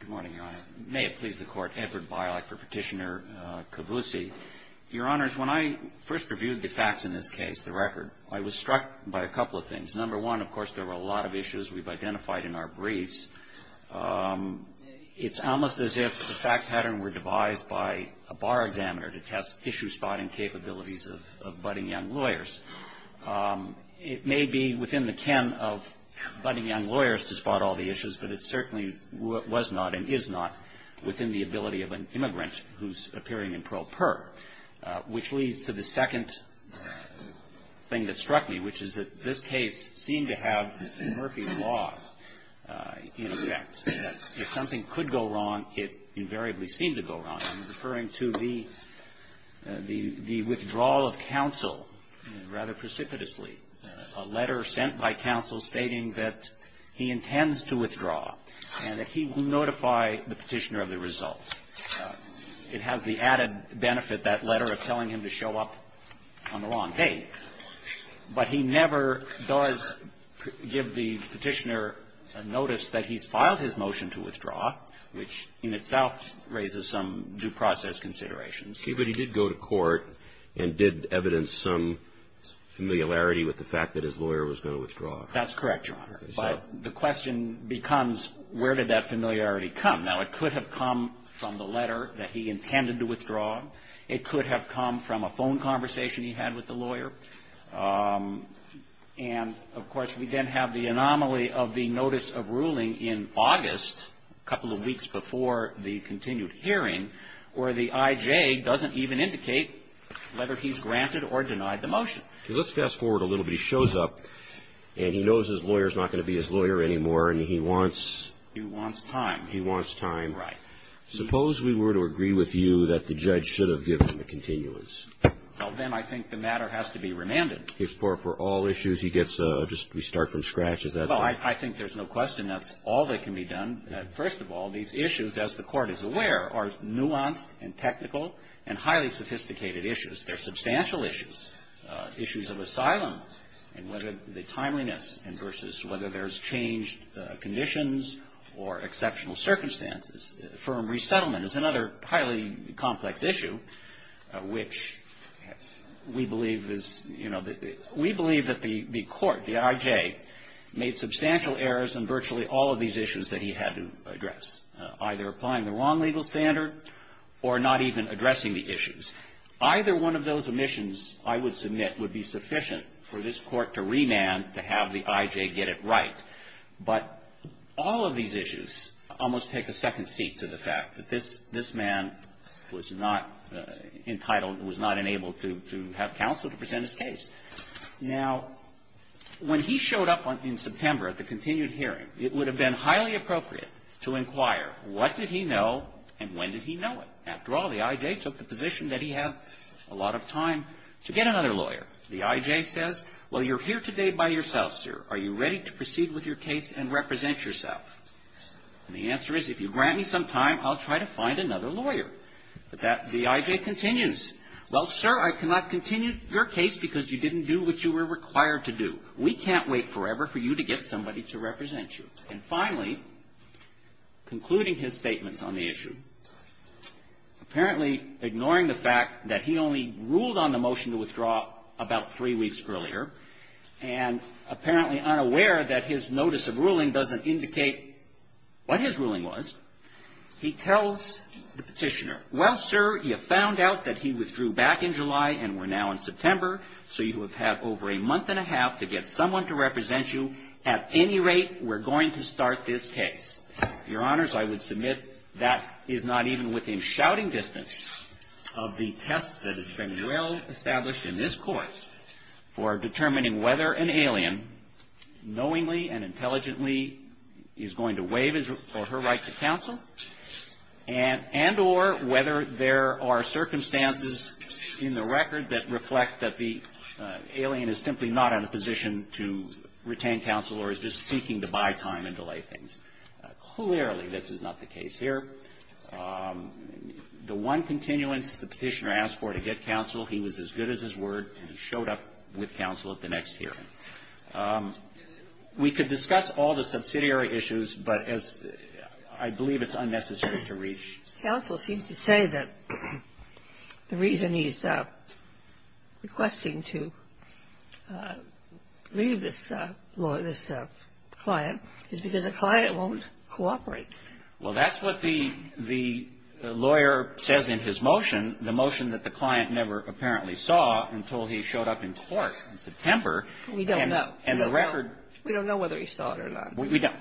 Good morning, Your Honor. May it please the Court, Edward Bialak for Petitioner Kavousi. Your Honors, when I first reviewed the facts in this case, the record, I was struck by a couple of things. Number one, of course, there were a lot of issues we've identified in our briefs. It's almost as if the fact pattern were devised by a bar examiner to test issue-spotting capabilities of budding young lawyers. It may be within the ken of budding young lawyers to spot all the issues, but it certainly was not and is not within the ability of an immigrant who's appearing in pro per. Which leads to the second thing that struck me, which is that this case seemed to have Murphy's Law in effect. That if something could go wrong, it invariably seemed to go wrong. I'm referring to the withdrawal of counsel rather precipitously. A letter sent by counsel stating that he intends to withdraw and that he will notify the petitioner of the result. It has the added benefit, that letter, of telling him to show up on the wrong day. But he never does give the petitioner a notice that he's filed his motion to withdraw, which in itself raises some due process considerations. Okay, but he did go to court and did evidence some familiarity with the fact that his lawyer was going to withdraw. That's correct, Your Honor. But the question becomes, where did that familiarity come? Now, it could have come from the letter that he intended to withdraw. It could have come from a phone conversation he had with the lawyer. And, of course, we then have the anomaly of the notice of ruling in August, a couple of weeks before the continued hearing, where the IJ doesn't even indicate whether he's granted or denied the motion. Okay, let's fast forward a little bit. He shows up and he knows his lawyer's not going to be his lawyer anymore and he wants... He wants time. He wants time. Right. Suppose we were to agree with you that the judge should have given the continuance. Well, then I think the matter has to be remanded. If for all issues he gets a just restart from scratch, is that right? Well, I think there's no question that's all that can be done. First of all, these issues, as the Court is aware, are nuanced and technical and highly sophisticated issues. They're substantial issues, issues of asylum and whether the timeliness and versus whether there's changed conditions or exceptional circumstances. Firm resettlement is another highly complex issue, which we believe is, you know, we believe that the Court, the IJ, made substantial errors in virtually all of these issues that he had to address, either applying the wrong legal standard or not even addressing the issues. Either one of those omissions, I would submit, would be sufficient for this Court to remand to have the IJ get it right. But all of these issues almost take a second seat to the fact that this man was not entitled, was not enabled to have counsel to present his case. Now, when he showed up in September at the continued hearing, it would have been highly appropriate to inquire, what did he know and when did he know it? After all, the IJ took the position that he had a lot of time to get another lawyer. The IJ says, well, you're here today by yourself, sir. Are you ready to proceed with your case and represent yourself? And the answer is, if you grant me some time, I'll try to find another lawyer. But that, the IJ continues, well, sir, I cannot continue your case because you didn't do what you were required to do. We can't wait forever for you to get somebody to represent you. And finally, concluding his statements on the issue, apparently ignoring the fact that he only ruled on the motion to withdraw about three weeks earlier and apparently unaware that his notice of ruling doesn't indicate what his ruling was, he tells the Petitioner, well, sir, you found out that he withdrew back in July and we're now in September, so you have had over a month and a half to get someone to represent you. At any rate, we're going to start this case. Your Honors, I would submit that is not even within shouting distance of the test that has been well established in this Court for determining whether an alien knowingly and intelligently is going to waive his or her right to counsel and or whether there are circumstances in the record that reflect that the alien is simply not in a position to retain counsel or is just seeking to buy time and delay things. Clearly, this is not the case here. The one continuance the Petitioner asked for to get counsel, he was as good as his word, and he showed up with counsel at the next hearing. We could discuss all the subsidiary issues, but as I believe it's unnecessary to reach. Counsel seems to say that the reason he's requesting to leave this client is because the client won't cooperate. Well, that's what the lawyer says in his motion, the motion that the client never apparently saw until he showed up in court in September. We don't know. And the record. We don't know whether he saw it or not. We don't.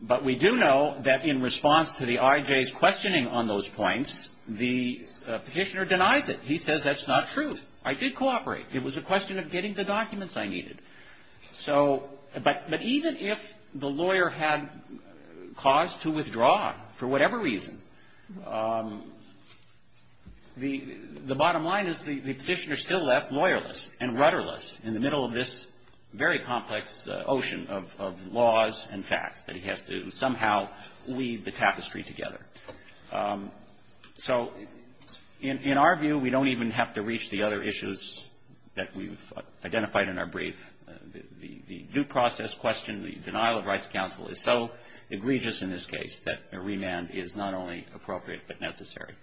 But we do know that in response to the IJ's questioning on those points, the Petitioner denies it. He says that's not true. I did cooperate. It was a question of getting the documents I needed. So, but even if the lawyer had cause to withdraw for whatever reason, the bottom line is the Petitioner still left lawyerless and rudderless in the middle of this very complex ocean of laws and facts that he has to somehow weave the tapestry together. So in our view, we don't even have to reach the other issues that we've identified in our brief. The due process question, the denial of rights counsel is so egregious in this case that a remand is not only appropriate but necessary.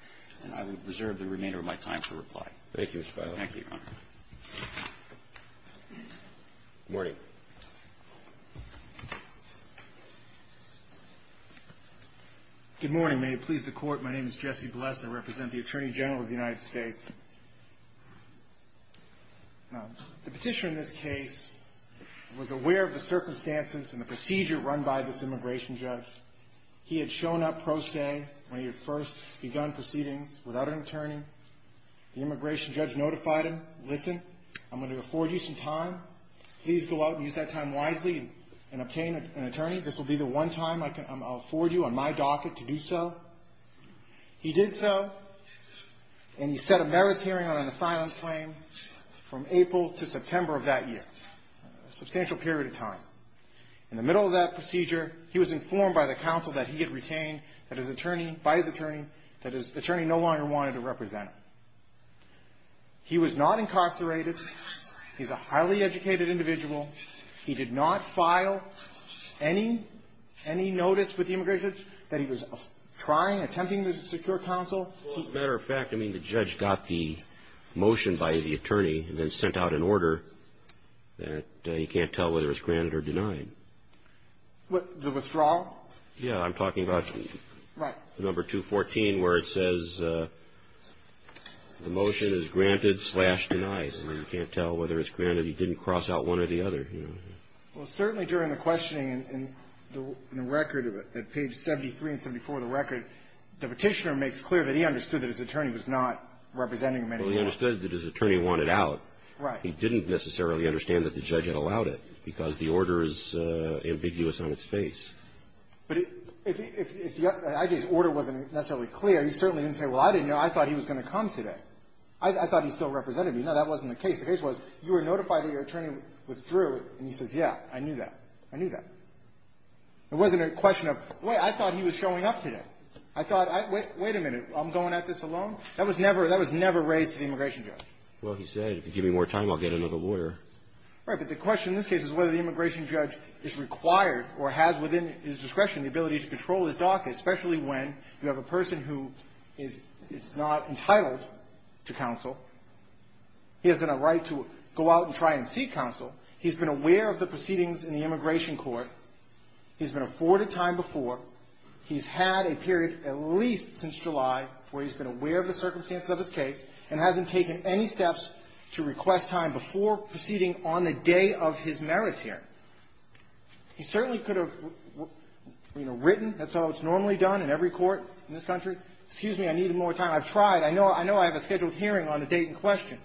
And I will reserve the remainder of my time to reply. Thank you, Mr. Feiler. Thank you, Your Honor. Good morning. Good morning. May it please the Court, my name is Jesse Bless. I represent the Attorney General of the United States. The Petitioner in this case was aware of the circumstances and the procedure run by this immigration judge. He had shown up pro se when he had first begun proceedings without an attorney. The immigration judge notified him, listen, I'm going to afford you some time. Please go out and use that time wisely and obtain an attorney. This will be the one time I can afford you on my docket to do so. He did so, and he set a merits hearing on an asylum claim from April to September of that year, a substantial period of time. In the middle of that procedure, he was informed by the counsel that he had retained by his attorney that his attorney no longer wanted to represent him. He was not incarcerated. He's a highly educated individual. He did not file any notice with the immigration judge that he was trying, attempting to secure counsel. Well, as a matter of fact, I mean, the judge got the motion by the attorney and then sent out an order that you can't tell whether it's granted or denied. What, the withdrawal? Yeah, I'm talking about number 214 where it says the motion is granted slash denied. I mean, you can't tell whether it's granted. He didn't cross out one or the other. Well, certainly during the questioning in the record, at page 73 and 74 of the record, the Petitioner makes clear that he understood that his attorney was not representing him anymore. Well, he understood that his attorney wanted out. Right. He didn't necessarily understand that the judge had allowed it because the order is ambiguous on its face. But if the I.J.'s order wasn't necessarily clear, he certainly didn't say, well, I didn't know. I thought he was going to come today. I thought he still represented me. No, that wasn't the case. The case was you were notified that your attorney withdrew, and he says, yeah, I knew that. I knew that. It wasn't a question of, wait, I thought he was showing up today. I thought, wait a minute, I'm going at this alone? That was never raised to the immigration judge. Well, he said, if you give me more time, I'll get another lawyer. Right. But the question in this case is whether the immigration judge is required or has within his discretion the ability to control his docket, especially when you have a person who is not entitled to counsel. He has a right to go out and try and seek counsel. He's been aware of the proceedings in the immigration court. He's been afforded time before. He's had a period at least since July where he's been aware of the circumstances of his case and hasn't taken any steps to request time before proceeding on the day of his merits hearing. He certainly could have, you know, written. That's how it's normally done in every court in this country. Excuse me, I need more time. I've tried. I know I have a scheduled hearing on a date in question,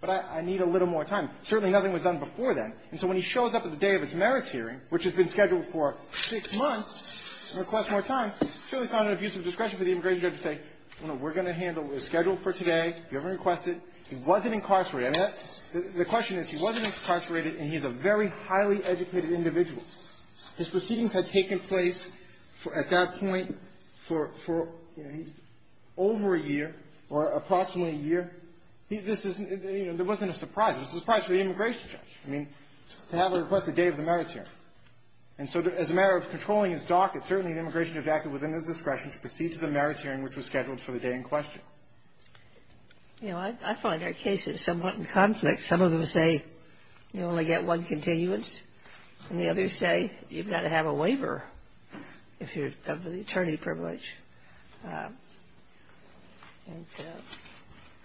but I need a little more time. Certainly nothing was done before then. And so when he shows up at the day of his merits hearing, which has been scheduled for six months, and requests more time, surely it's not an abuse of discretion for the immigration judge to say, you know, we're going to handle the schedule for today, if you ever request it. He wasn't incarcerated. I mean, the question is, he wasn't incarcerated, and he's a very highly educated individual. His proceedings had taken place at that point for, you know, over a year or approximately a year. This isn't, you know, there wasn't a surprise. It was a surprise for the immigration judge. I mean, to have him request the day of the merits hearing. And so as a matter of controlling his docket, certainly the immigration judge acted within his discretion to proceed to the merits hearing, which was scheduled for the day in question. You know, I find our cases somewhat in conflict. Some of them say you only get one continuance, and the others say you've got to have a waiver if you're of the attorney privilege. And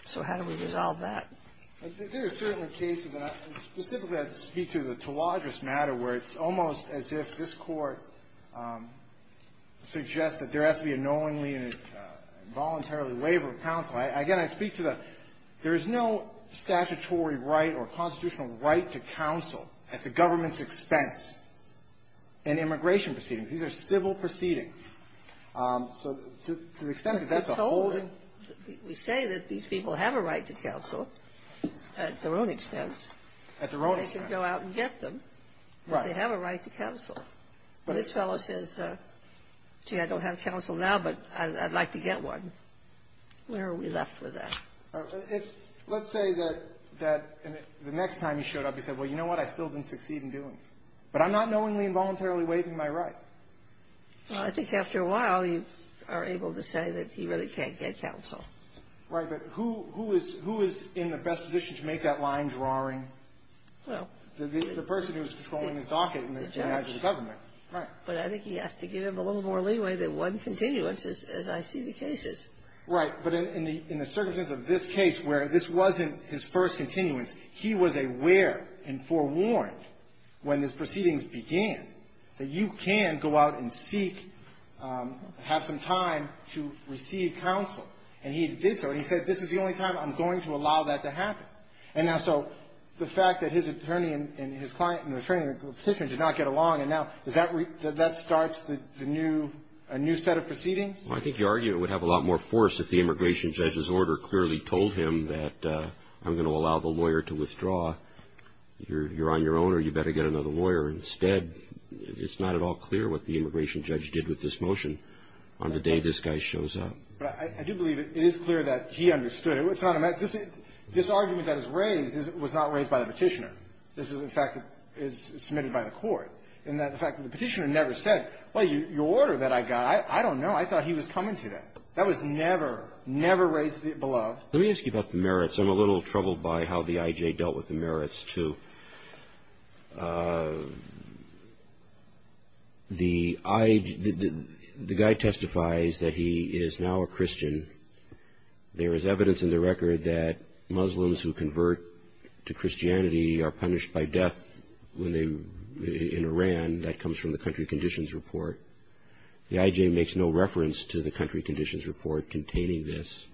so how do we resolve that? There are certainly cases, and specifically I have to speak to the Tawadros matter, where it's almost as if this Court suggests that there has to be a knowingly and involuntarily waiver of counsel. Again, I speak to the there is no statutory right or constitutional right to counsel at the government's expense in immigration proceedings. These are civil proceedings. So to the extent that that's a holding ---- We say that these people have a right to counsel at their own expense. At their own expense. They can go out and get them. Right. If they have a right to counsel. This fellow says, gee, I don't have counsel now, but I'd like to get one. Where are we left with that? Let's say that the next time he showed up, he said, well, you know what? I still didn't succeed in doing it. But I'm not knowingly and voluntarily waiving my right. Well, I think after a while, you are able to say that he really can't get counsel. Right. But who is in the best position to make that line drawing? Well ---- The person who is controlling his docket in the eyes of the government. Right. But I think he has to give him a little more leeway than one continuance, as I see the cases. Right. But in the circumstances of this case where this wasn't his first continuance, he was aware and forewarned when these proceedings began that you can go out and seek and have some time to receive counsel. And he did so. And he said, this is the only time I'm going to allow that to happen. And now, so the fact that his attorney and his client and the attorney and the petitioner did not get along, and now, does that ---- that starts the new ---- a new set of proceedings? Well, I think your argument would have a lot more force if the immigration judge's order clearly told him that I'm going to allow the lawyer to withdraw. You're on your own, or you better get another lawyer instead. It's not at all clear what the immigration judge did with this motion on the day this guy shows up. But I do believe it is clear that he understood. But it's not a matter of ---- this argument that is raised was not raised by the petitioner. This is a fact that is submitted by the Court. And the fact that the petitioner never said, well, your order that I got, I don't know. I thought he was coming today. That was never, never raised below. Let me ask you about the merits. I'm a little troubled by how the I.J. dealt with the merits, too. The I.J. ---- the guy testifies that he is now a Christian. There is evidence in the record that Muslims who convert to Christianity are punished by death when they ---- in Iran. That comes from the Country Conditions Report. The I.J. makes no reference to the Country Conditions Report containing this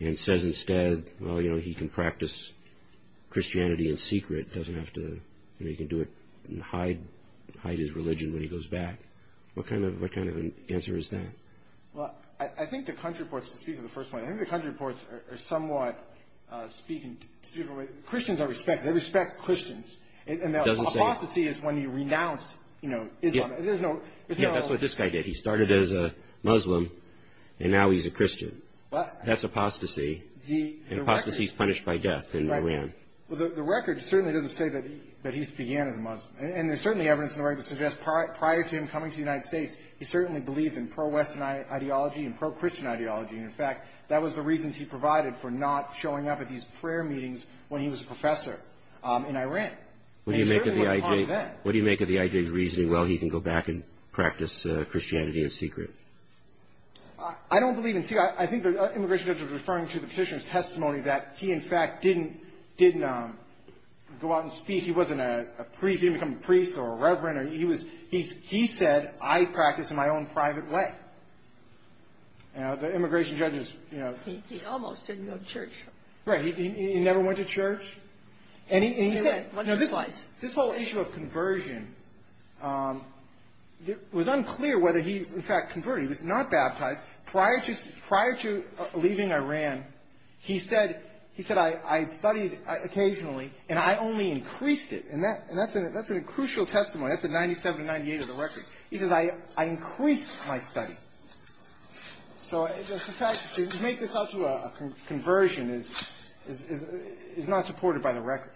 and says instead, well, you know, he can practice Christianity in secret, doesn't have to ---- you know, he can do it and hide his religion when he goes back. What kind of an answer is that? Well, I think the Country Reports, to speak to the first point, I think the Country Reports are somewhat speaking to the different way. Christians are respected. They respect Christians. It doesn't say ---- And the apostasy is when you renounce, you know, Islam. There's no ---- Yeah, that's what this guy did. He started as a Muslim, and now he's a Christian. That's apostasy. The record ---- And apostasy is punished by death in Iran. Well, the record certainly doesn't say that he began as a Muslim. And there's certainly evidence in the record that suggests prior to him coming to the And in fact, that was the reasons he provided for not showing up at these prayer meetings when he was a professor in Iran. And it certainly wasn't common then. What do you make of the IJ's reasoning, well, he can go back and practice Christianity in secret? I don't believe in secret. I think the immigration judge was referring to the Petitioner's testimony that he, in fact, didn't go out and speak. He wasn't a priest. He didn't become a priest or a reverend. He was ---- he said, I practice in my own private way. You know, the immigration judge is, you know ---- He almost didn't go to church. Right. He never went to church. And he said ---- He went once or twice. This whole issue of conversion, it was unclear whether he, in fact, converted. He was not baptized. Prior to leaving Iran, he said, he said, I studied occasionally, and I only increased it. And that's a crucial testimony. That's in 97 and 98 of the record. He says, I increased my study. So, in fact, to make this out to a conversion is not supported by the record.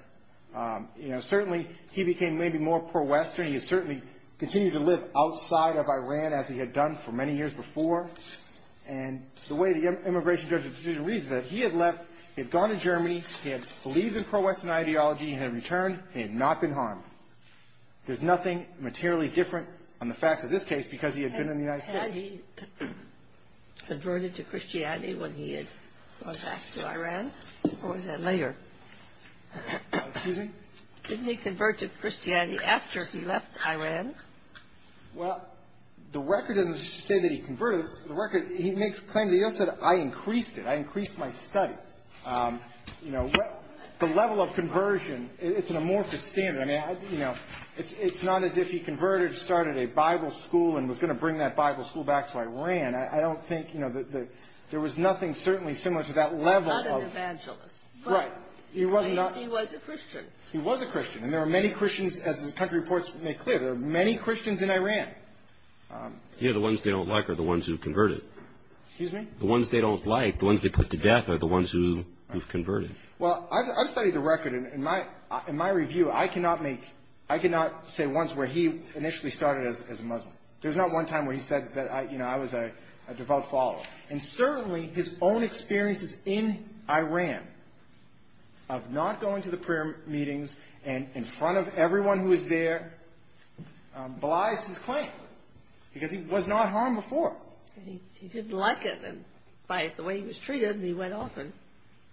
You know, certainly, he became maybe more pro-Western. He certainly continued to live outside of Iran, as he had done for many years before. And the way the immigration judge's decision reads is that he had left, he had gone to Germany, he had believed in pro-Western ideology, he had returned, he had not been harmed. There's nothing materially different on the facts of this case because he had been in the United States. Had he converted to Christianity when he had gone back to Iran? Or was that later? Excuse me? Didn't he convert to Christianity after he left Iran? Well, the record doesn't say that he converted. The record, he makes claims. He also said, I increased it. I increased my study. You know, the level of conversion, it's an amorphous standard. I mean, you know, it's not as if he converted, started a Bible school, and was going to bring that Bible school back to Iran. I don't think, you know, there was nothing certainly similar to that level of ---- He was not an evangelist. Right. He was not ---- He was a Christian. He was a Christian. And there are many Christians, as the country reports make clear, there are many Christians in Iran. You know, the ones they don't like are the ones who converted. Excuse me? The ones they don't like, the ones they put to death are the ones who converted. Well, I've studied the record, and in my review, I cannot make, I cannot say once where he initially started as a Muslim. There's not one time where he said that, you know, I was a devout follower. And certainly, his own experiences in Iran of not going to the prayer meetings and in front of everyone who was there belies his claim, because he was not harmed before. He didn't like it. And by the way he was treated, he went off and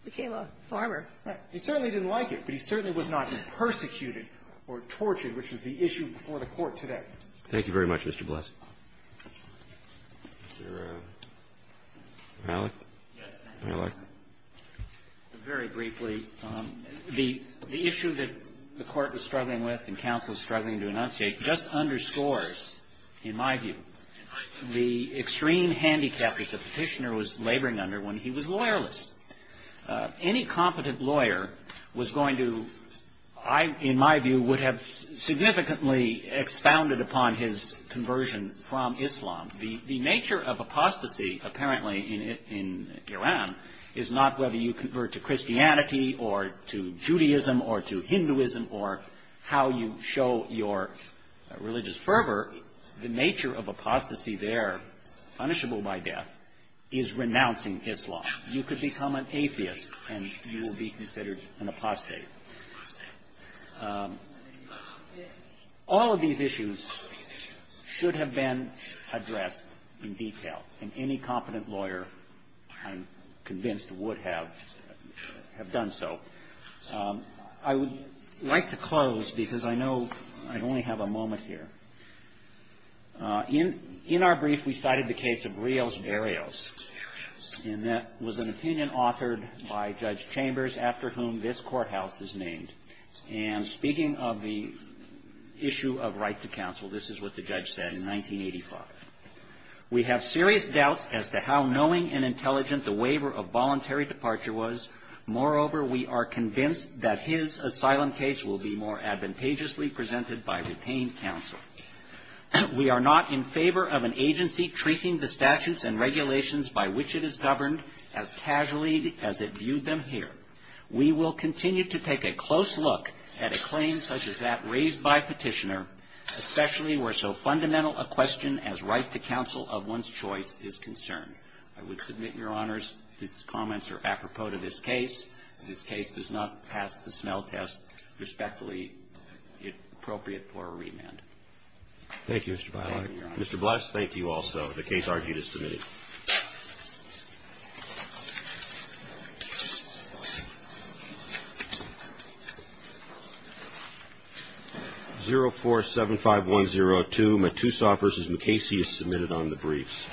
became a farmer. Right. He certainly didn't like it, but he certainly was not persecuted or tortured, which was the issue before the Court today. Thank you very much, Mr. Bless. Is there a ---- Malik? Yes. Malik. Very briefly, the issue that the Court was struggling with and counsel is struggling to enunciate just underscores, in my view, the extreme handicap that the petitioner was laboring under when he was lawyerless. Any competent lawyer was going to, in my view, would have significantly expounded upon his conversion from Islam. The nature of apostasy apparently in Iran is not whether you convert to Christianity or to Judaism or to Hinduism or how you show your religious fervor. The nature of apostasy there, punishable by death, is renouncing Islam. You could become an atheist and you will be considered an apostate. All of these issues should have been addressed in detail, and any competent lawyer, I'm convinced, would have done so. I would like to close because I know I only have a moment here. In our brief, we cited the case of Rios-Darius. And that was an opinion authored by Judge Chambers, after whom this courthouse is named. And speaking of the issue of right to counsel, this is what the judge said in 1985. We have serious doubts as to how knowing and intelligent the waiver of voluntary departure was. Moreover, we are convinced that his asylum case will be more advantageously presented by retained counsel. We are not in favor of an agency treating the statutes and regulations by which it is governed as casually as it viewed them here. We will continue to take a close look at a claim such as that raised by petitioner, especially where so fundamental a question as right to counsel of one's choice is concerned. I would submit, Your Honors, his comments are apropos to this case. This case does not pass the smell test, respectively, appropriate for a remand. Thank you, Mr. Biley. Thank you, Your Honors. Mr. Bless, thank you also. The case argued is submitted. 0475102, Matusoff v. MacCasey is submitted on the briefs.